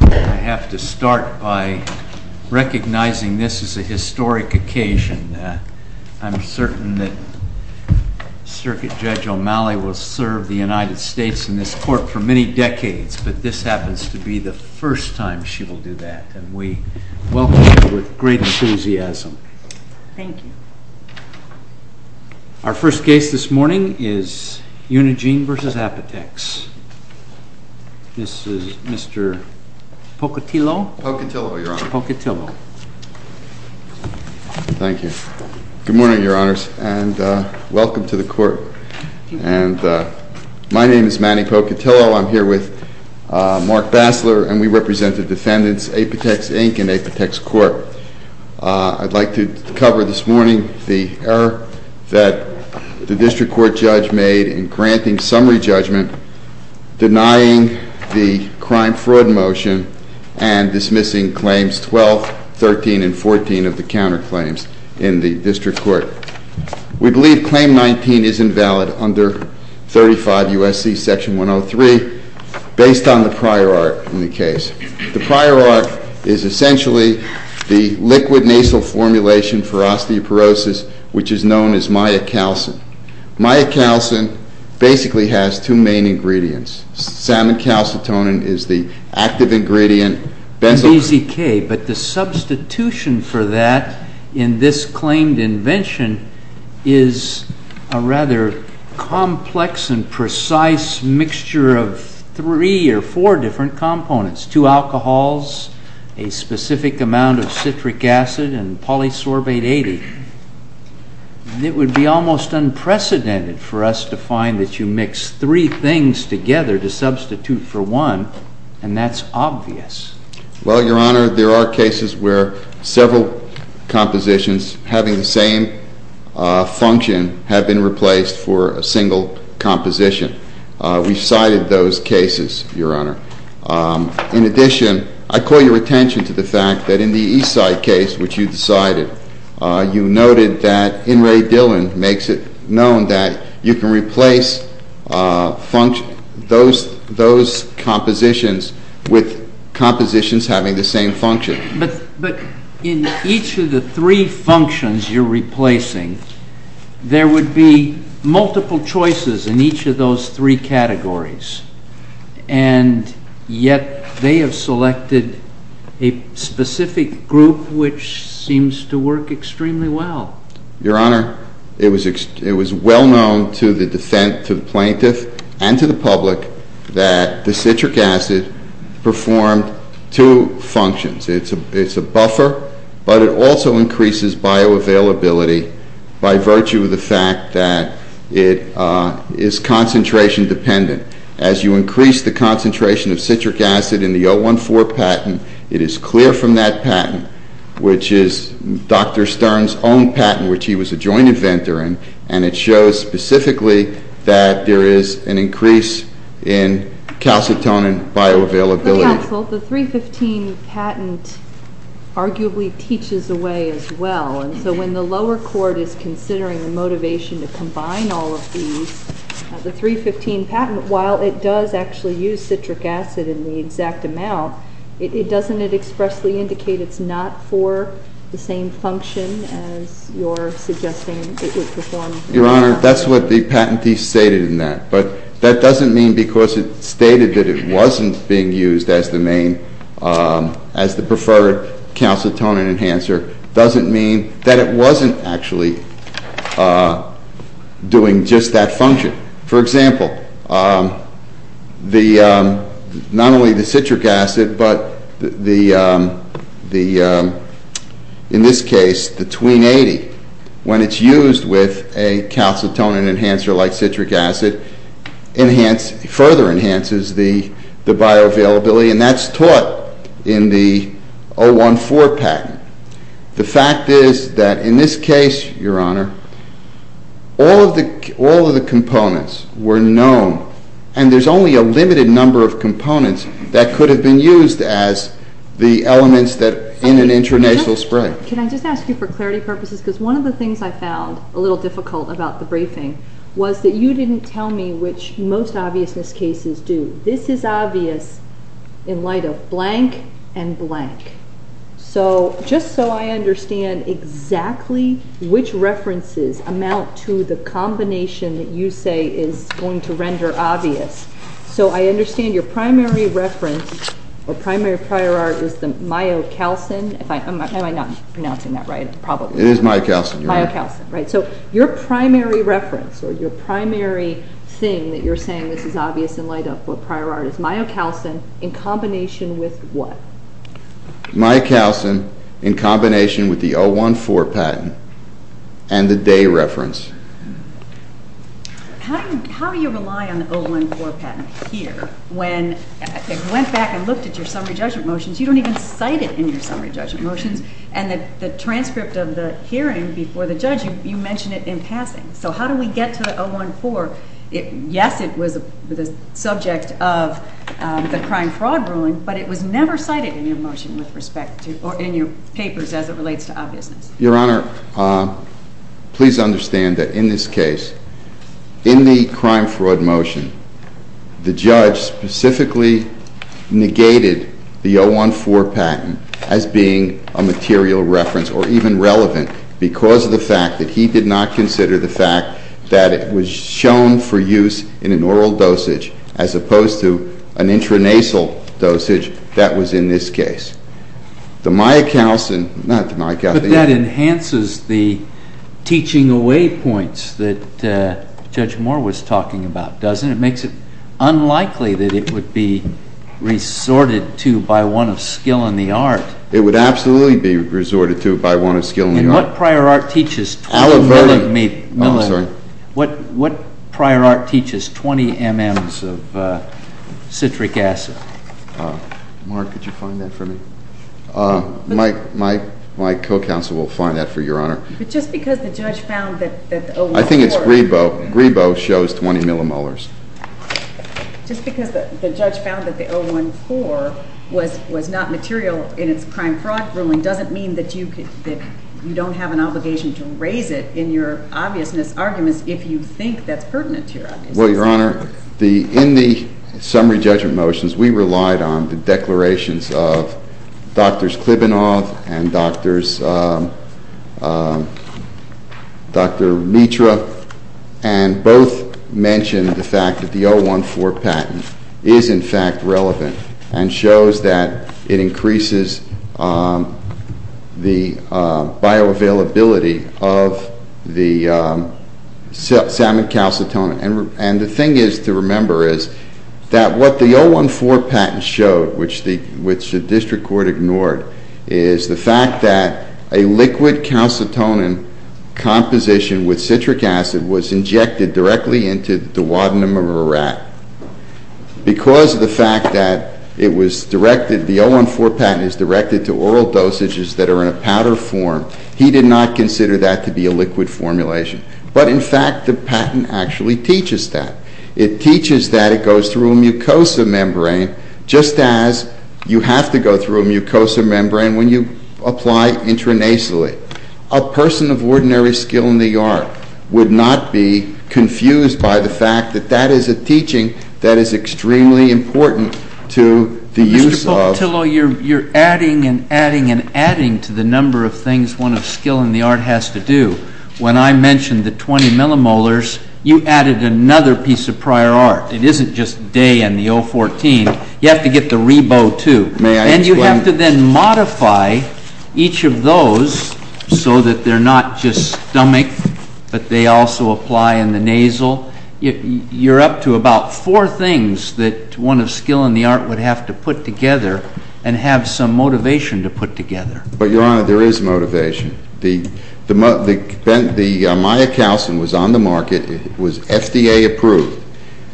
I have to start by recognizing this is a historic occasion. I'm certain that Circuit Judge O'Malley will serve the United States in this court for many decades, but this happens to be the first time she will do that, and we welcome her with great enthusiasm. Thank you. Our first case this morning is UNIGENE v. APOTEX. This is Mr. Pocatillo. Pocatillo, Your Honor. Pocatillo. Thank you. Good morning, Your Honors, and welcome to the court. Thank you. My name is Manny Pocatillo. I'm here with Mark Bassler, and we represent the defendants, APOTEX Inc. and APOTEX Court. I'd like to cover this morning the error that the District Court judge made in granting summary judgment, denying the crime fraud motion, and dismissing claims 12, 13, and 14 of the counterclaims in the District Court. We believe Claim 19 is invalid under 35 U.S.C. Section 103, based on the prior art in the case. The prior art is essentially the liquid nasal formulation for osteoporosis, which is known as myocalcin. Myocalcin basically has two main ingredients. Salmon calcitonin is the active ingredient. But the substitution for that in this claimed invention is a rather complex and precise mixture of three or four different components, two alcohols, a specific amount of citric acid, and polysorbate 80. It would be almost unprecedented for us to find that you mix three things together to substitute for one, and that's obvious. Well, Your Honor, there are cases where several compositions having the same function have been replaced for a single composition. We've cited those cases, Your Honor. In addition, I call your attention to the fact that in the Eastside case, which you decided, you noted that In re Dillon makes it known that you can replace those compositions with compositions having the same function. But in each of the three functions you're replacing, there would be multiple choices in each of those three categories. And yet they have selected a specific group which seems to work extremely well. Your Honor, it was well known to the plaintiff and to the public that the citric acid performed two functions. It's a buffer, but it also increases bioavailability by virtue of the fact that it is concentration dependent. As you increase the concentration of citric acid in the 014 patent, it is clear from that patent, which is Dr. Stern's own patent, which he was a joint inventor in. And it shows specifically that there is an increase in calcitonin bioavailability. The 315 patent arguably teaches away as well. And so when the lower court is considering the motivation to combine all of these, the 315 patent, while it does actually use citric acid in the exact amount, doesn't it expressly indicate it's not for the same function as you're suggesting it would perform? Your Honor, that's what the patentee stated in that. But that doesn't mean because it stated that it wasn't being used as the preferred calcitonin enhancer, doesn't mean that it wasn't actually doing just that function. For example, not only the citric acid, but in this case, the Tween-80, when it's used with a calcitonin enhancer like citric acid, further enhances the bioavailability, and that's taught in the 014 patent. The fact is that in this case, Your Honor, all of the components were known, and there's only a limited number of components that could have been used as the elements in an intranasal spray. Can I just ask you for clarity purposes? Because one of the things I found a little difficult about the briefing was that you didn't tell me which most obviousness cases do. This is obvious in light of blank and blank. So just so I understand exactly which references amount to the combination that you say is going to render obvious. So I understand your primary reference or primary prior art is the myocalcin. Am I not pronouncing that right? It is myocalcin. Myocalcin, right. So your primary reference or your primary thing that you're saying this is obvious in light of prior art is myocalcin in combination with what? Myocalcin in combination with the 014 patent and the day reference. How do you rely on the 014 patent here when it went back and looked at your summary judgment motions? You don't even cite it in your summary judgment motions. And the transcript of the hearing before the judge, you mention it in passing. So how do we get to the 014? Yes, it was the subject of the crime fraud ruling, but it was never cited in your motion with respect to or in your papers as it relates to obviousness. Your Honor, please understand that in this case, in the crime fraud motion, the judge specifically negated the 014 patent as being a material reference or even relevant because of the fact that he did not consider the fact that it was shown for use in an oral dosage as opposed to an intranasal dosage that was in this case. The myocalcin, not the myocalcin. But that enhances the teaching away points that Judge Moore was talking about, doesn't it? It makes it unlikely that it would be resorted to by one of skill in the art. It would absolutely be resorted to by one of skill in the art. And what prior art teaches 20 mm of citric acid? Mark, could you find that for me? My co-counsel will find that for Your Honor. But just because the judge found that the 014 I think it's Grebo. Grebo shows 20 mm. Just because the judge found that the 014 was not material in its crime fraud ruling doesn't mean that you don't have an obligation to raise it in your obviousness arguments if you think that's pertinent to your obviousness. Well, Your Honor, in the summary judgment motions, we relied on the declarations of Drs. Klybanoff and Dr. Mitra. And both mentioned the fact that the 014 patent is in fact relevant and shows that it increases the bioavailability of the salmon calcitonin. And the thing is to remember is that what the 014 patent showed, which the district court ignored, is the fact that a liquid calcitonin composition with citric acid was injected directly into the duodenum of a rat. Because of the fact that it was directed, the 014 patent is directed to oral dosages that are in a powder form, he did not consider that to be a liquid formulation. But in fact, the patent actually teaches that. It teaches that it goes through a mucosal membrane just as you have to go through a mucosal membrane when you apply intranasally. A person of ordinary skill in the art would not be confused by the fact that that is a teaching that is extremely important to the use of… You're adding and adding and adding to the number of things one of skill in the art has to do. When I mentioned the 20 millimolars, you added another piece of prior art. It isn't just day and the 014, you have to get the reboot too. And you have to then modify each of those so that they're not just stomach, but they also apply in the nasal. You're up to about four things that one of skill in the art would have to put together and have some motivation to put together. But Your Honor, there is motivation. The myocalcin was on the market. It was FDA approved.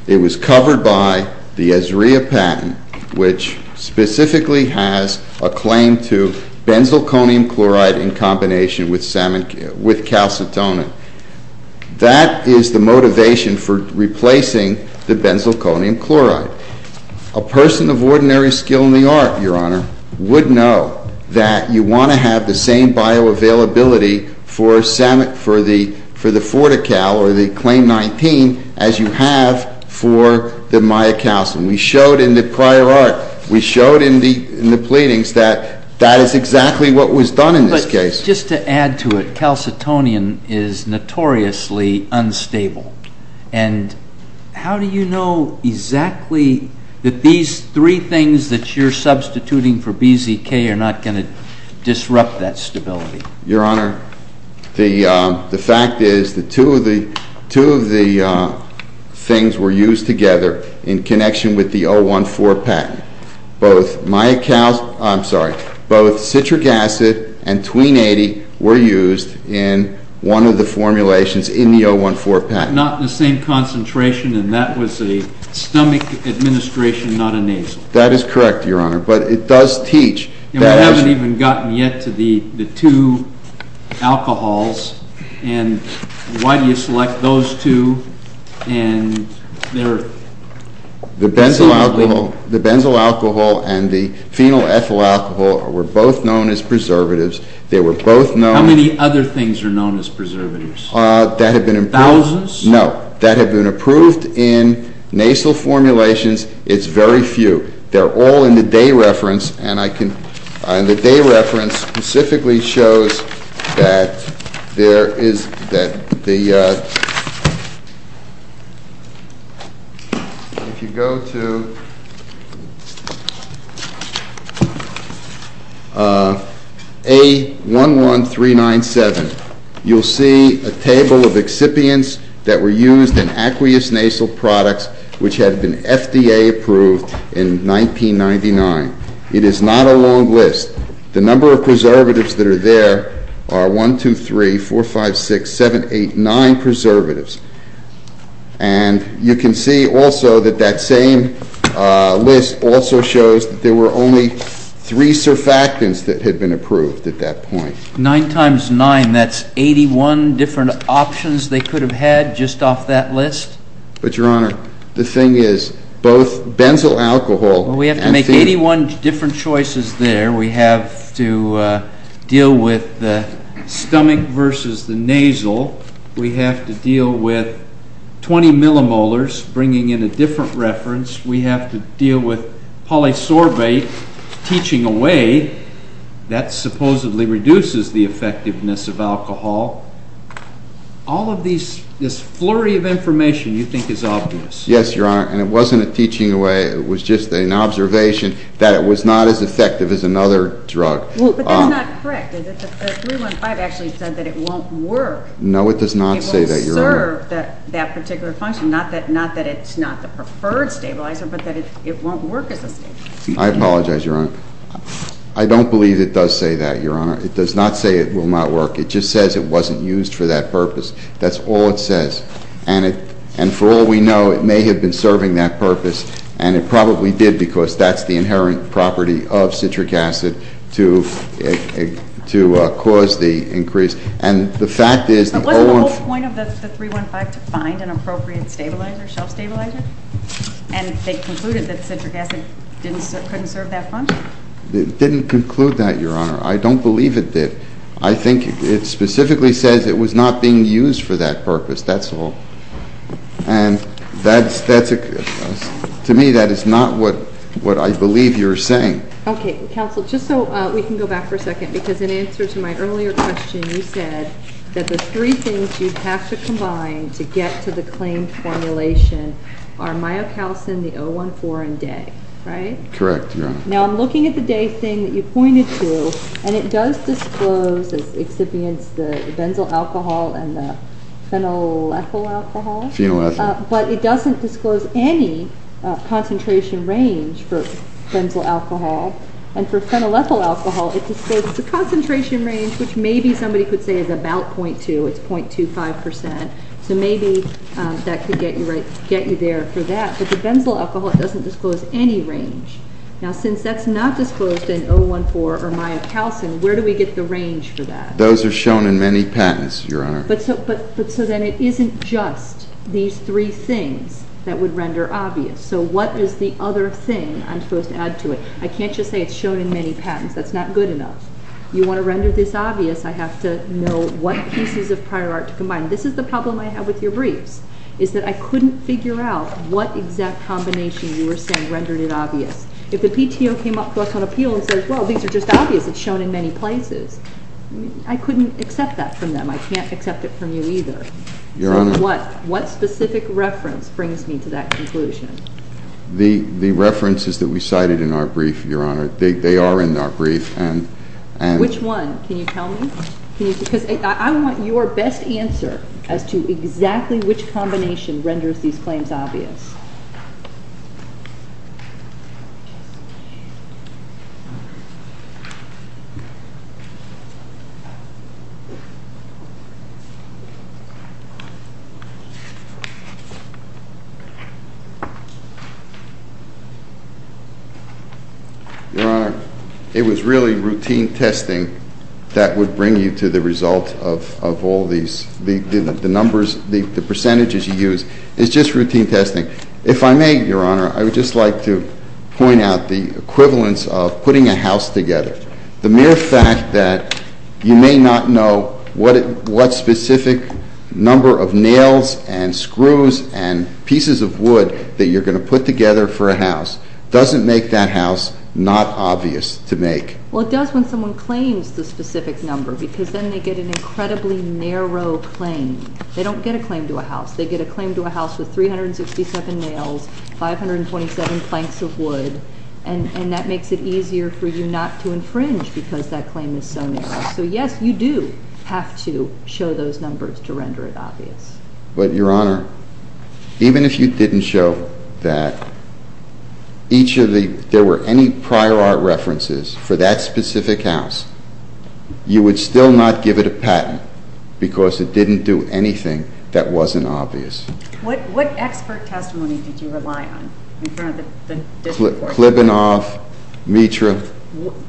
It was covered by the Ezria patent, which specifically has a claim to benzylconium chloride in combination with calcitonin. That is the motivation for replacing the benzylconium chloride. A person of ordinary skill in the art, Your Honor, would know that you want to have the same bioavailability for the FortiCal or the CLAIM-19 as you have for the myocalcin. We showed in the prior art, we showed in the pleadings that that is exactly what was done in this case. Just to add to it, calcitonin is notoriously unstable. And how do you know exactly that these three things that you're substituting for BZK are not going to disrupt that stability? Your Honor, the fact is that two of the things were used together in connection with the 014 patent. Both citric acid and tween 80 were used in one of the formulations in the 014 patent. Not in the same concentration, and that was a stomach administration, not a nasal. That is correct, Your Honor. But it does teach. We haven't even gotten yet to the two alcohols. And why do you select those two? The benzyl alcohol and the phenol ethyl alcohol were both known as preservatives. How many other things are known as preservatives? Thousands? No. That had been approved in nasal formulations. It's very few. They're all in the day reference, and the day reference specifically shows that there is that the ‑‑ if you go to A11397, you'll see a table of excipients that were used in aqueous nasal products which had been FDA approved in 1999. It is not a long list. The number of preservatives that are there are 1, 2, 3, 4, 5, 6, 7, 8, 9 preservatives. And you can see also that that same list also shows that there were only three surfactants that had been approved at that point. Nine times nine, that's 81 different options they could have had just off that list? But, Your Honor, the thing is, both benzyl alcohol and phenol ‑‑ We have to make 81 different choices there. We have to deal with the stomach versus the nasal. We have to deal with 20 millimolars, bringing in a different reference. We have to deal with polysorbate teaching away. That supposedly reduces the effectiveness of alcohol. All of this flurry of information you think is obvious. Yes, Your Honor, and it wasn't a teaching away. It was just an observation that it was not as effective as another drug. But that's not correct, is it? The 315 actually said that it won't work. No, it does not say that, Your Honor. It will serve that particular function. Not that it's not the preferred stabilizer, but that it won't work as a stabilizer. I apologize, Your Honor. I don't believe it does say that, Your Honor. It does not say it will not work. It just says it wasn't used for that purpose. That's all it says. And for all we know, it may have been serving that purpose, and it probably did because that's the inherent property of citric acid to cause the increase. And the fact is ‑‑ But wasn't the whole point of the 315 to find an appropriate stabilizer, shelf stabilizer? And they concluded that citric acid couldn't serve that function? It didn't conclude that, Your Honor. I don't believe it did. I think it specifically says it was not being used for that purpose. That's all. And to me, that is not what I believe you're saying. Okay. Counsel, just so we can go back for a second, because in answer to my earlier question, you said that the three things you have to combine to get to the claimed formulation are myocalcin, the 014, and day. Right? Correct, Your Honor. Now, I'm looking at the day thing that you pointed to, and it does disclose, as the exhibients, the benzyl alcohol and the phenylethyl alcohol. Phenylethyl. But it doesn't disclose any concentration range for benzyl alcohol. And for phenylethyl alcohol, it discloses a concentration range, which maybe somebody could say is about 0.2. It's 0.25 percent. So maybe that could get you there for that. But for benzyl alcohol, it doesn't disclose any range. Now, since that's not disclosed in 014 or myocalcin, where do we get the range for that? Those are shown in many patents, Your Honor. But so then it isn't just these three things that would render obvious. So what is the other thing I'm supposed to add to it? I can't just say it's shown in many patents. That's not good enough. You want to render this obvious, I have to know what pieces of prior art to combine. This is the problem I have with your briefs, is that I couldn't figure out what exact combination you were saying rendered it obvious. If the PTO came up to us on appeal and said, well, these are just obvious. It's shown in many places. I couldn't accept that from them. I can't accept it from you either. Your Honor. So what specific reference brings me to that conclusion? The references that we cited in our brief, Your Honor, they are in our brief. Which one? Can you tell me? Because I want your best answer as to exactly which combination renders these claims obvious. Your Honor, it was really routine testing that would bring you to the result of all these, the numbers, the percentages you used. It's just routine testing. If I may, Your Honor, I would just like to point out the equivalence of putting a house together. The mere fact that you may not know what specific number of nails and screws and pieces of wood that you're going to put together for a house doesn't make that house not obvious to make. Well, it does when someone claims the specific number because then they get an incredibly narrow claim. They don't get a claim to a house. They get a claim to a house with 367 nails, 527 planks of wood, and that makes it easier for you not to infringe because that claim is so narrow. So, yes, you do have to show those numbers to render it obvious. But, Your Honor, even if you didn't show that each of the – there were any prior art references for that specific house, you would still not give it a patent because it didn't do anything that wasn't obvious. What expert testimony did you rely on in front of the district court? Klibanoff, Mitra.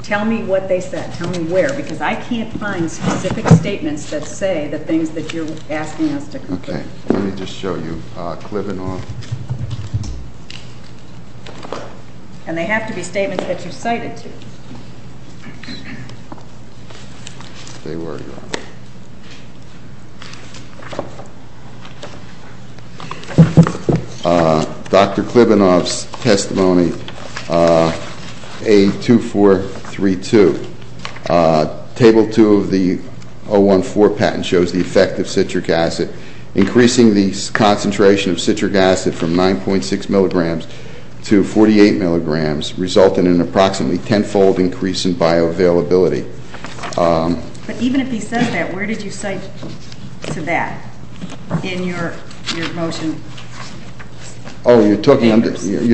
Tell me what they said. Tell me where because I can't find specific statements that say the things that you're asking us to confirm. Okay. Let me just show you. Klibanoff. And they have to be statements that you cited to. They were, Your Honor. Dr. Klibanoff's testimony, A2432. Table 2 of the 014 patent shows the effect of citric acid. Increasing the concentration of citric acid from 9.6 milligrams to 48 milligrams resulted in approximately tenfold increase in bioavailability. But even if he said that, where did you cite to that in your motion? Oh, you're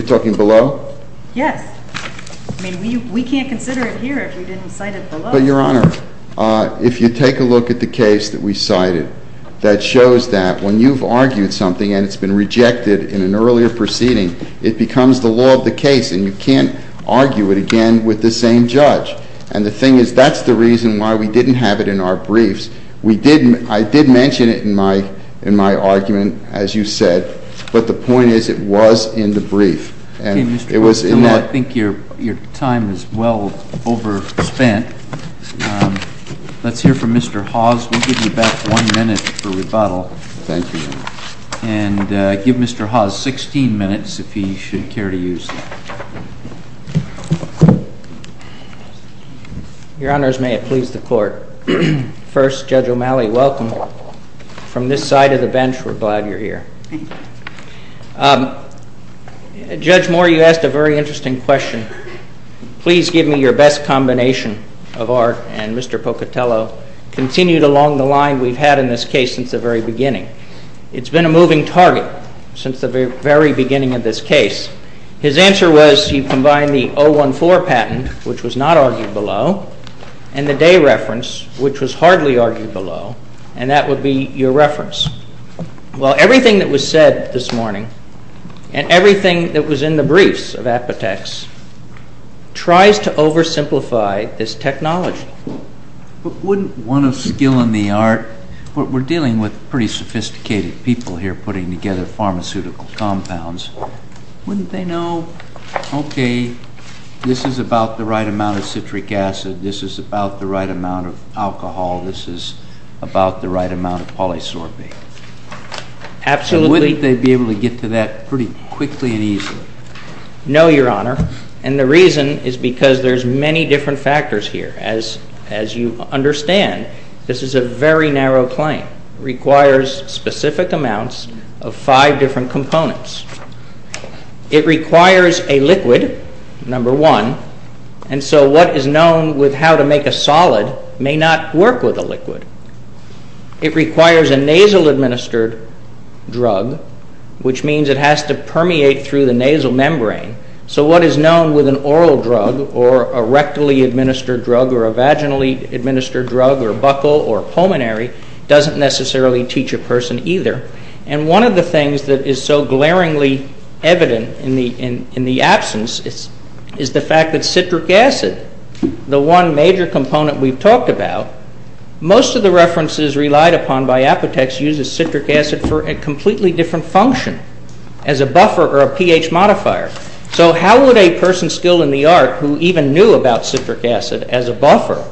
talking below? Yes. I mean, we can't consider it here if you didn't cite it below. But, Your Honor, if you take a look at the case that we cited, that shows that when you've argued something and it's been rejected in an earlier proceeding, it becomes the law of the case and you can't argue it again with the same judge. And the thing is, that's the reason why we didn't have it in our briefs. I did mention it in my argument, as you said, but the point is it was in the brief. Okay, Mr. Klobuchar, I think your time is well overspent. Let's hear from Mr. Hawes. We'll give you back one minute for rebuttal. Thank you, Your Honor. And give Mr. Hawes 16 minutes if he should care to use that. Your Honors, may it please the Court. First, Judge O'Malley, welcome. From this side of the bench, we're glad you're here. Thank you. Judge Moore, you asked a very interesting question. Please give me your best combination of Art and Mr. Pocatello continued along the line we've had in this case since the very beginning. It's been a moving target since the very beginning of this case. His answer was he combined the 014 patent, which was not argued below, and the day reference, which was hardly argued below, and that would be your reference. Well, everything that was said this morning and everything that was in the briefs of Apotex tries to oversimplify this technology. But wouldn't one of skill in the art, we're dealing with pretty sophisticated people here putting together pharmaceutical compounds, wouldn't they know, okay, this is about the right amount of citric acid, this is about the right amount of alcohol, this is about the right amount of polysorbate? Absolutely. And wouldn't they be able to get to that pretty quickly and easily? No, Your Honor. And the reason is because there's many different factors here. As you understand, this is a very narrow claim, requires specific amounts of five different components. It requires a liquid, number one, and so what is known with how to make a solid may not work with a liquid. It requires a nasal administered drug, which means it has to permeate through the nasal membrane. So what is known with an oral drug or a rectally administered drug or a vaginally administered drug or a buccal or pulmonary doesn't necessarily teach a person either. And one of the things that is so glaringly evident in the absence is the fact that citric acid, the one major component we've talked about, most of the references relied upon by Apotex uses citric acid for a completely different function as a buffer or a pH modifier. So how would a person skilled in the art who even knew about citric acid as a buffer,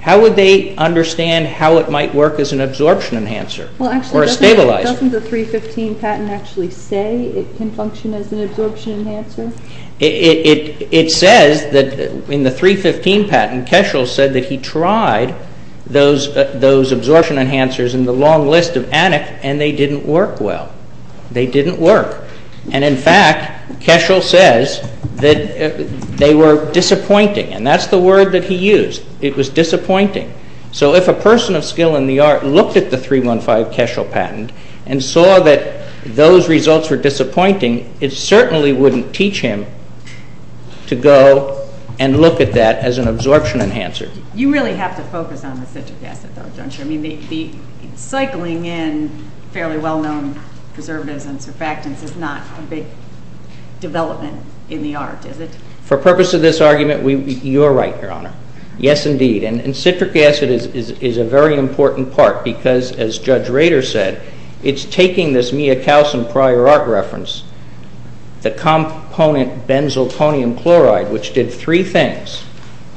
how would they understand how it might work as an absorption enhancer or a stabilizer? Well, actually, doesn't the 315 patent actually say it can function as an absorption enhancer? It says that in the 315 patent, Keschel said that he tried those absorption enhancers in the long list of Annex and they didn't work well. They didn't work. And in fact, Keschel says that they were disappointing, and that's the word that he used. It was disappointing. So if a person of skill in the art looked at the 315 Keschel patent and saw that those results were disappointing, it certainly wouldn't teach him to go and look at that as an absorption enhancer. You really have to focus on the citric acid, though, don't you? I mean, cycling in fairly well-known preservatives and surfactants is not a big development in the art, is it? For purpose of this argument, you're right, Your Honor. Yes, indeed. And citric acid is a very important part because, as Judge Rader said, it's taking this miocalcium prior art reference, the component benzoponium chloride, which did three things.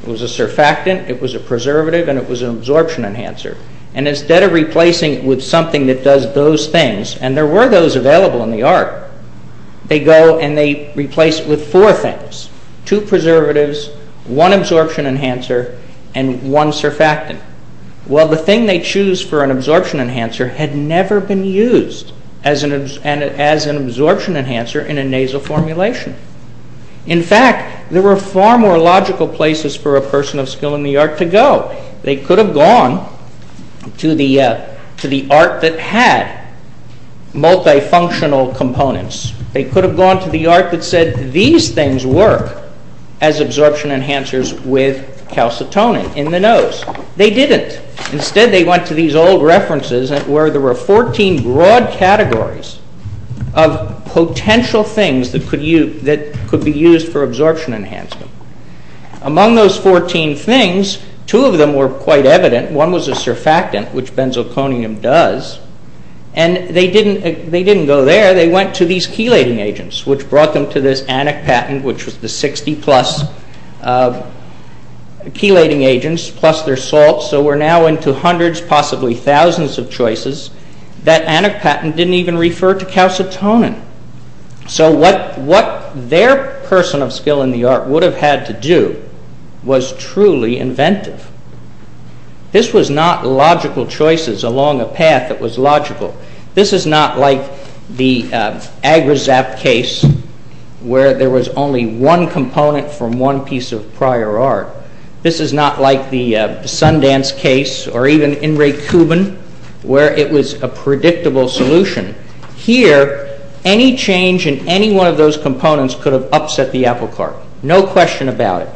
It was a surfactant, it was a preservative, and it was an absorption enhancer. And instead of replacing it with something that does those things, and there were those available in the art, they go and they replace it with four things, two preservatives, one absorption enhancer, and one surfactant. Well, the thing they choose for an absorption enhancer had never been used as an absorption enhancer in a nasal formulation. In fact, there were far more logical places for a person of skill in the art to go. They could have gone to the art that had multifunctional components. They could have gone to the art that said these things work as absorption enhancers with calcitonin in the nose. They didn't. Instead, they went to these old references where there were 14 broad categories of potential things that could be used for absorption enhancement. Among those 14 things, two of them were quite evident. One was a surfactant, which benzoponium does. And they didn't go there. They went to these chelating agents, which brought them to this Annex patent, which was the 60-plus chelating agents plus their salts. So we're now into hundreds, possibly thousands of choices. That Annex patent didn't even refer to calcitonin. So what their person of skill in the art would have had to do was truly inventive. This was not logical choices along a path that was logical. This is not like the AgraZap case where there was only one component from one piece of prior art. This is not like the Sundance case or even In Re Cubin where it was a predictable solution. Here, any change in any one of those components could have upset the apple cart. No question about it.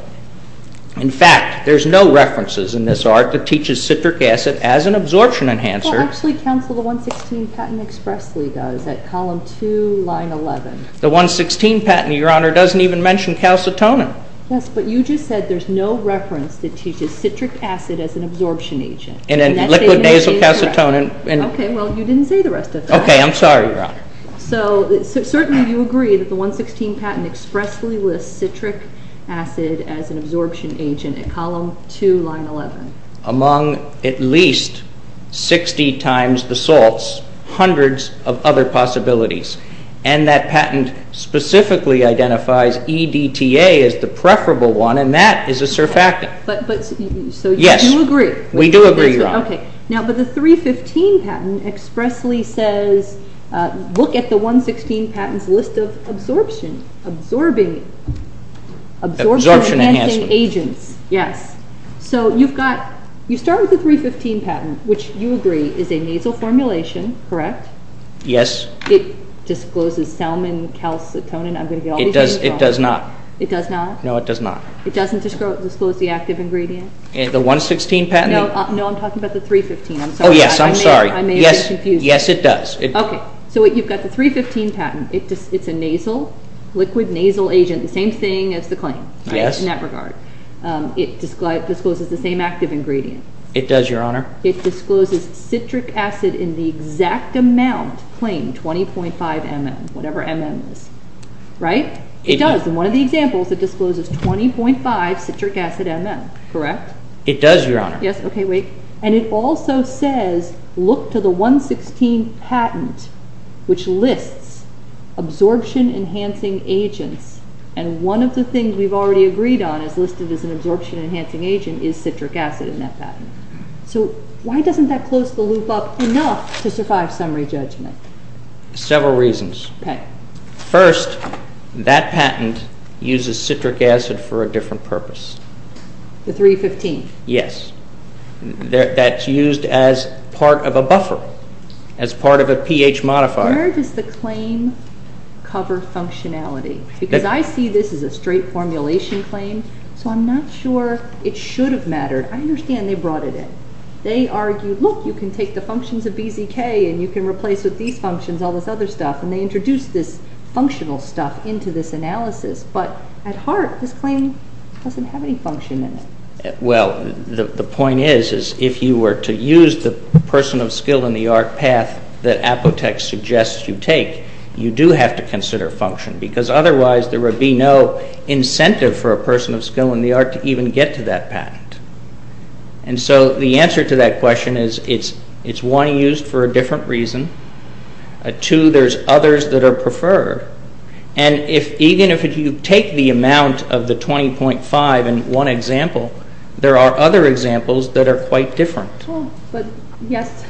In fact, there's no references in this art that teaches citric acid as an absorption enhancer. Well, actually, counsel, the 116 patent expressly does at column 2, line 11. The 116 patent, Your Honor, doesn't even mention calcitonin. Yes, but you just said there's no reference that teaches citric acid as an absorption agent. And then liquid nasal calcitonin. Okay, well, you didn't say the rest of that. Okay, I'm sorry, Your Honor. So certainly you agree that the 116 patent expressly lists citric acid as an absorption agent at column 2, line 11. Among at least 60 times the salts, hundreds of other possibilities. And that patent specifically identifies EDTA as the preferable one, and that is a surfactant. So you do agree? Yes, we do agree, Your Honor. Okay, but the 315 patent expressly says look at the 116 patent's list of absorption enhancing agents. Yes, so you start with the 315 patent, which you agree is a nasal formulation, correct? Yes. It discloses salmon calcitonin. It does not. It does not? No, it does not. It doesn't disclose the active ingredient? The 116 patent? No, I'm talking about the 315. Oh, yes, I'm sorry. I may have been confused. Yes, it does. Okay, so you've got the 315 patent. It's a nasal, liquid nasal agent, the same thing as the claim in that regard. It discloses the same active ingredient. It does, Your Honor. It discloses citric acid in the exact amount claimed, 20.5 mm, whatever mm is, right? It does. In one of the examples, it discloses 20.5 citric acid mm, correct? It does, Your Honor. Yes, okay, wait. And it also says, look to the 116 patent, which lists absorption enhancing agents, and one of the things we've already agreed on as listed as an absorption enhancing agent is citric acid in that patent. So why doesn't that close the loop up enough to survive summary judgment? Several reasons. Okay. First, that patent uses citric acid for a different purpose. The 315? Yes. That's used as part of a buffer, as part of a pH modifier. Where does the claim cover functionality? Because I see this as a straight formulation claim, so I'm not sure it should have mattered. I understand they brought it in. They argued, look, you can take the functions of BZK and you can replace with these functions, all this other stuff, and they introduced this functional stuff into this analysis. But at heart, this claim doesn't have any function in it. Well, the point is, is if you were to use the person of skill in the art path that Apotex suggests you take, you do have to consider function, because otherwise there would be no incentive for a person of skill in the art to even get to that patent. And so the answer to that question is it's one, used for a different reason. Two, there's others that are preferred. And even if you take the amount of the 20.5 in one example, there are other examples that are quite different. Yes,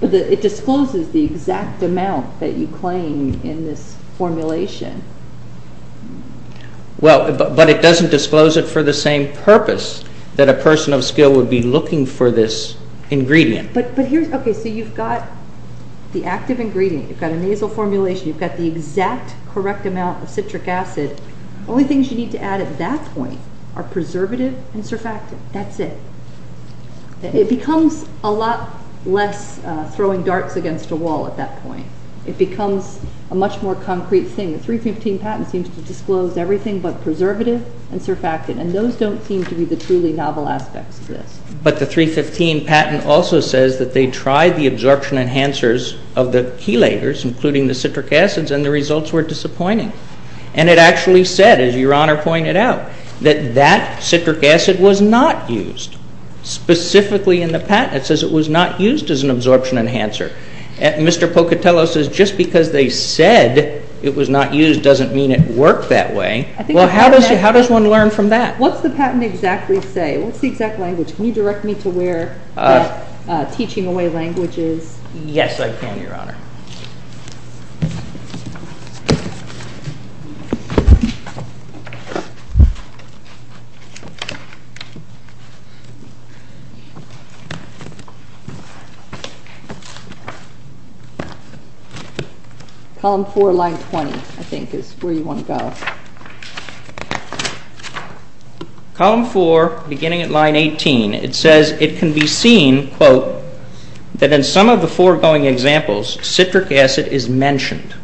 but it discloses the exact amount that you claim in this formulation. Well, but it doesn't disclose it for the same purpose, that a person of skill would be looking for this ingredient. Okay, so you've got the active ingredient, you've got a nasal formulation, you've got the exact correct amount of citric acid. Only things you need to add at that point are preservative and surfactant. That's it. It becomes a lot less throwing darts against a wall at that point. It becomes a much more concrete thing. The 315 patent seems to disclose everything but preservative and surfactant, and those don't seem to be the truly novel aspects of this. But the 315 patent also says that they tried the absorption enhancers of the chelators, including the citric acids, and the results were disappointing. And it actually said, as Your Honor pointed out, that that citric acid was not used specifically in the patent. It says it was not used as an absorption enhancer. Mr. Pocatello says just because they said it was not used doesn't mean it worked that way. Well, how does one learn from that? What's the patent exactly say? What's the exact language? Can you direct me to where that teaching away language is? Yes, I can, Your Honor. Column 4, line 20, I think, is where you want to go. Column 4, beginning at line 18, it says it can be seen, quote, that in some of the foregoing examples, citric acid is mentioned.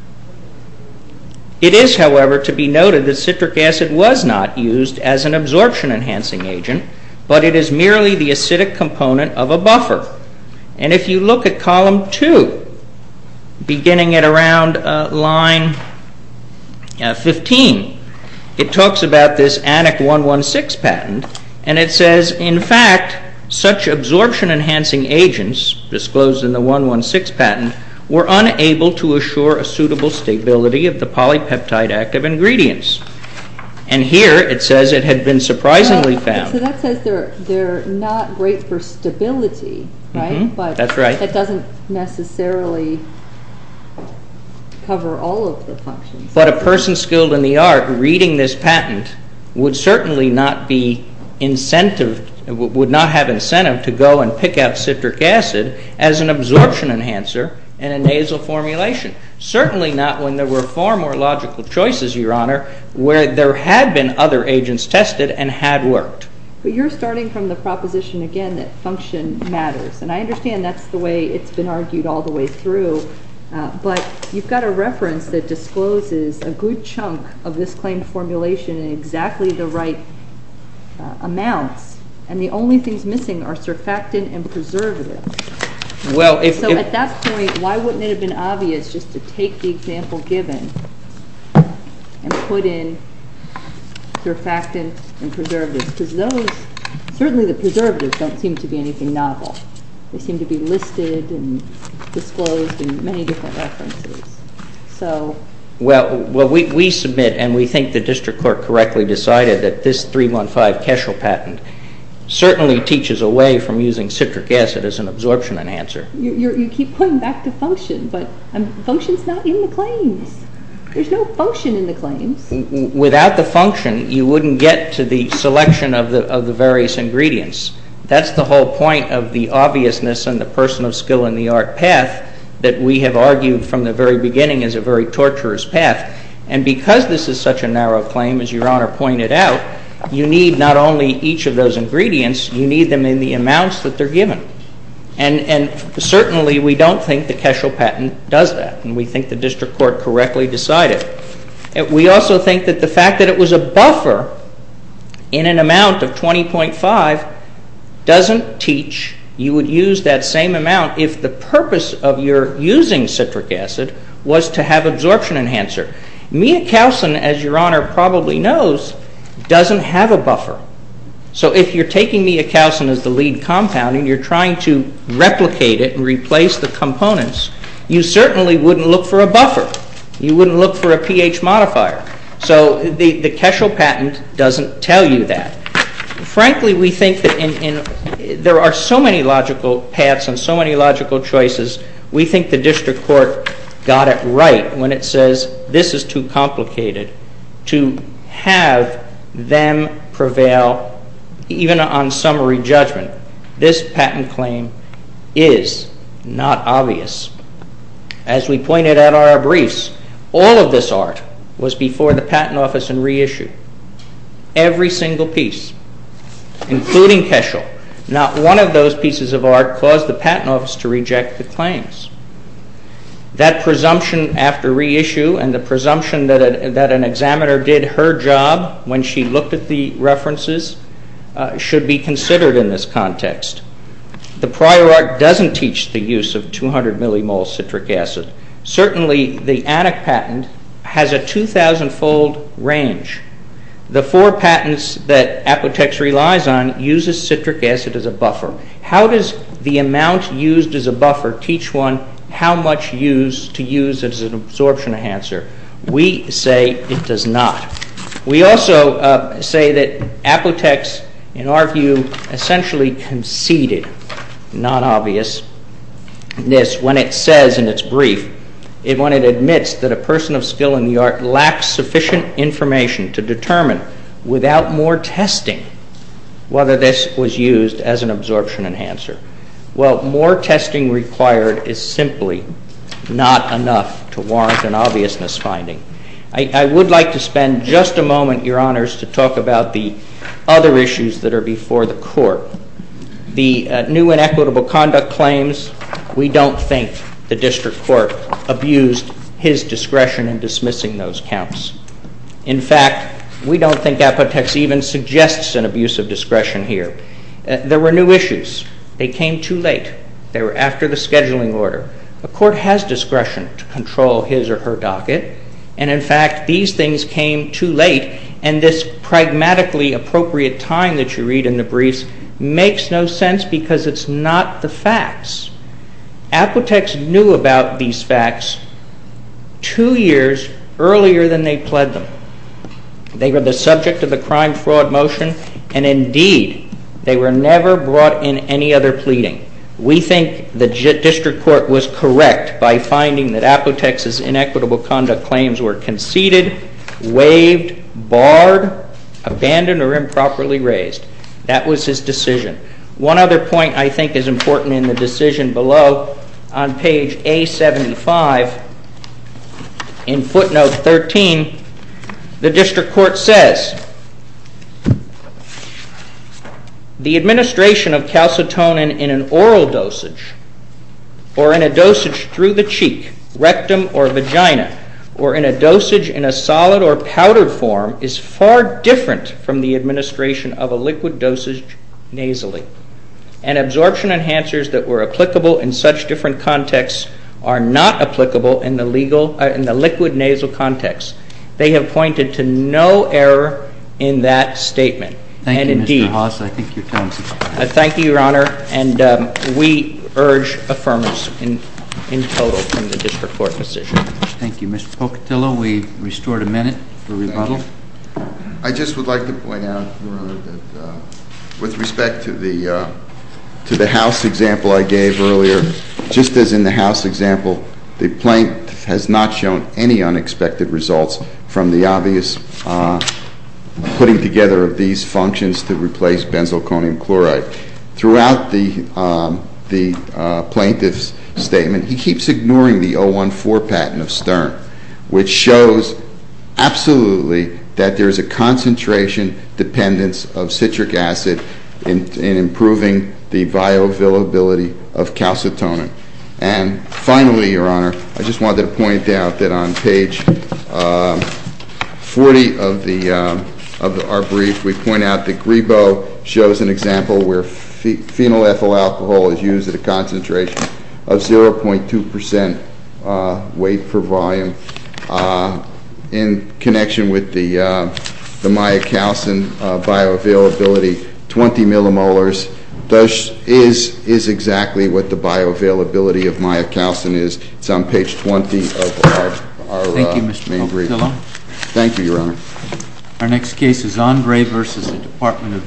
It is, however, to be noted that citric acid was not used as an absorption enhancing agent, but it is merely the acidic component of a buffer. And if you look at column 2, beginning at around line 15, it talks about this Annex 116 patent, and it says, in fact, such absorption enhancing agents disclosed in the 116 patent were unable to assure a suitable stability of the polypeptide active ingredients. And here it says it had been surprisingly found. So that says they're not great for stability, right? That's right. But that doesn't necessarily cover all of the functions. But a person skilled in the art reading this patent would certainly not have incentive to go and pick out citric acid as an absorption enhancer in a nasal formulation. Certainly not when there were far more logical choices, Your Honor, where there had been other agents tested and had worked. But you're starting from the proposition, again, that function matters. And I understand that's the way it's been argued all the way through. But you've got a reference that discloses a good chunk of this claim formulation in exactly the right amounts, and the only things missing are surfactant and preservatives. So at that point, why wouldn't it have been obvious just to take the example given and put in surfactant and preservatives? Because those, certainly the preservatives, don't seem to be anything novel. They seem to be listed and disclosed in many different references. Well, we submit and we think the district court correctly decided that this 315 Keschel patent certainly teaches a way from using citric acid as an absorption enhancer. You keep pointing back to function, but function's not in the claims. There's no function in the claims. Without the function, you wouldn't get to the selection of the various ingredients. That's the whole point of the obviousness and the person of skill in the art path that we have argued from the very beginning is a very torturous path. And because this is such a narrow claim, as Your Honor pointed out, you need not only each of those ingredients, you need them in the amounts that they're given. And certainly we don't think the Keschel patent does that, and we think the district court correctly decided. We also think that the fact that it was a buffer in an amount of 20.5 doesn't teach you would use that same amount if the purpose of your using citric acid was to have absorption enhancer. Myocalcin, as Your Honor probably knows, doesn't have a buffer. So if you're taking Myocalcin as the lead compound and you're trying to replicate it and replace the components, you certainly wouldn't look for a buffer. You wouldn't look for a pH modifier. So the Keschel patent doesn't tell you that. Frankly, we think that there are so many logical paths and so many logical choices, we think the district court got it right when it says this is too complicated to have them prevail even on summary judgment. This patent claim is not obvious. As we pointed out in our briefs, all of this art was before the patent office and reissued. Every single piece, including Keschel, not one of those pieces of art caused the patent office to reject the claims. That presumption after reissue and the presumption that an examiner did her job when she looked at the references should be considered in this context. The prior art doesn't teach the use of 200 millimole citric acid. Certainly, the Annex patent has a 2,000-fold range. The four patents that Apotex relies on uses citric acid as a buffer. How does the amount used as a buffer teach one how much to use as an absorption enhancer? We say it does not. We also say that Apotex, in our view, essentially conceded non-obviousness when it says in its brief when it admits that a person of skill in the art lacks sufficient information to determine without more testing whether this was used as an absorption enhancer. Well, more testing required is simply not enough to warrant an obviousness finding. I would like to spend just a moment, Your Honors, to talk about the other issues that are before the Court. The new inequitable conduct claims, we don't think the District Court abused his discretion in dismissing those counts. In fact, we don't think Apotex even suggests an abuse of discretion here. There were new issues. They came too late. They were after the scheduling order. A court has discretion to control his or her docket, and, in fact, these things came too late and this pragmatically appropriate time that you read in the briefs makes no sense because it's not the facts. Apotex knew about these facts two years earlier than they pled them. They were the subject of the crime-fraud motion, and, indeed, they were never brought in any other pleading. We think the District Court was correct by finding that Apotex's inequitable conduct claims were conceded, waived, barred, abandoned, or improperly raised. That was his decision. One other point I think is important in the decision below on page A75, in footnote 13, the District Court says, the administration of calcitonin in an oral dosage or in a dosage through the cheek, rectum, or vagina or in a dosage in a solid or powdered form is far different from the administration of a liquid dosage nasally, and absorption enhancers that were applicable in such different contexts are not applicable in the liquid nasal context. They have pointed to no error in that statement. Thank you, Mr. Haass. I think your time is up. Thank you, Your Honor, and we urge affirmance in total from the District Court decision. Thank you. Mr. Pocatillo, we've restored a minute for rebuttal. I just would like to point out, Your Honor, that with respect to the house example I gave earlier, just as in the house example, the plaintiff has not shown any unexpected results from the obvious putting together of these functions to replace benzalconium chloride. Throughout the plaintiff's statement, he keeps ignoring the 014 patent of Stern, which shows absolutely that there is a concentration dependence of citric acid in improving the bioavailability of calcitonin. And finally, Your Honor, I just wanted to point out that on page 40 of our brief, we point out that Grebo shows an example where phenolethyl alcohol is used at a concentration of 0.2 percent weight per volume in connection with the myocalcin bioavailability, 20 millimolars. This is exactly what the bioavailability of myocalcin is. It's on page 20 of our main brief. Thank you, Mr. Pocatillo. Thank you, Your Honor. Our next case is Andre versus the Department of Veterans Affairs.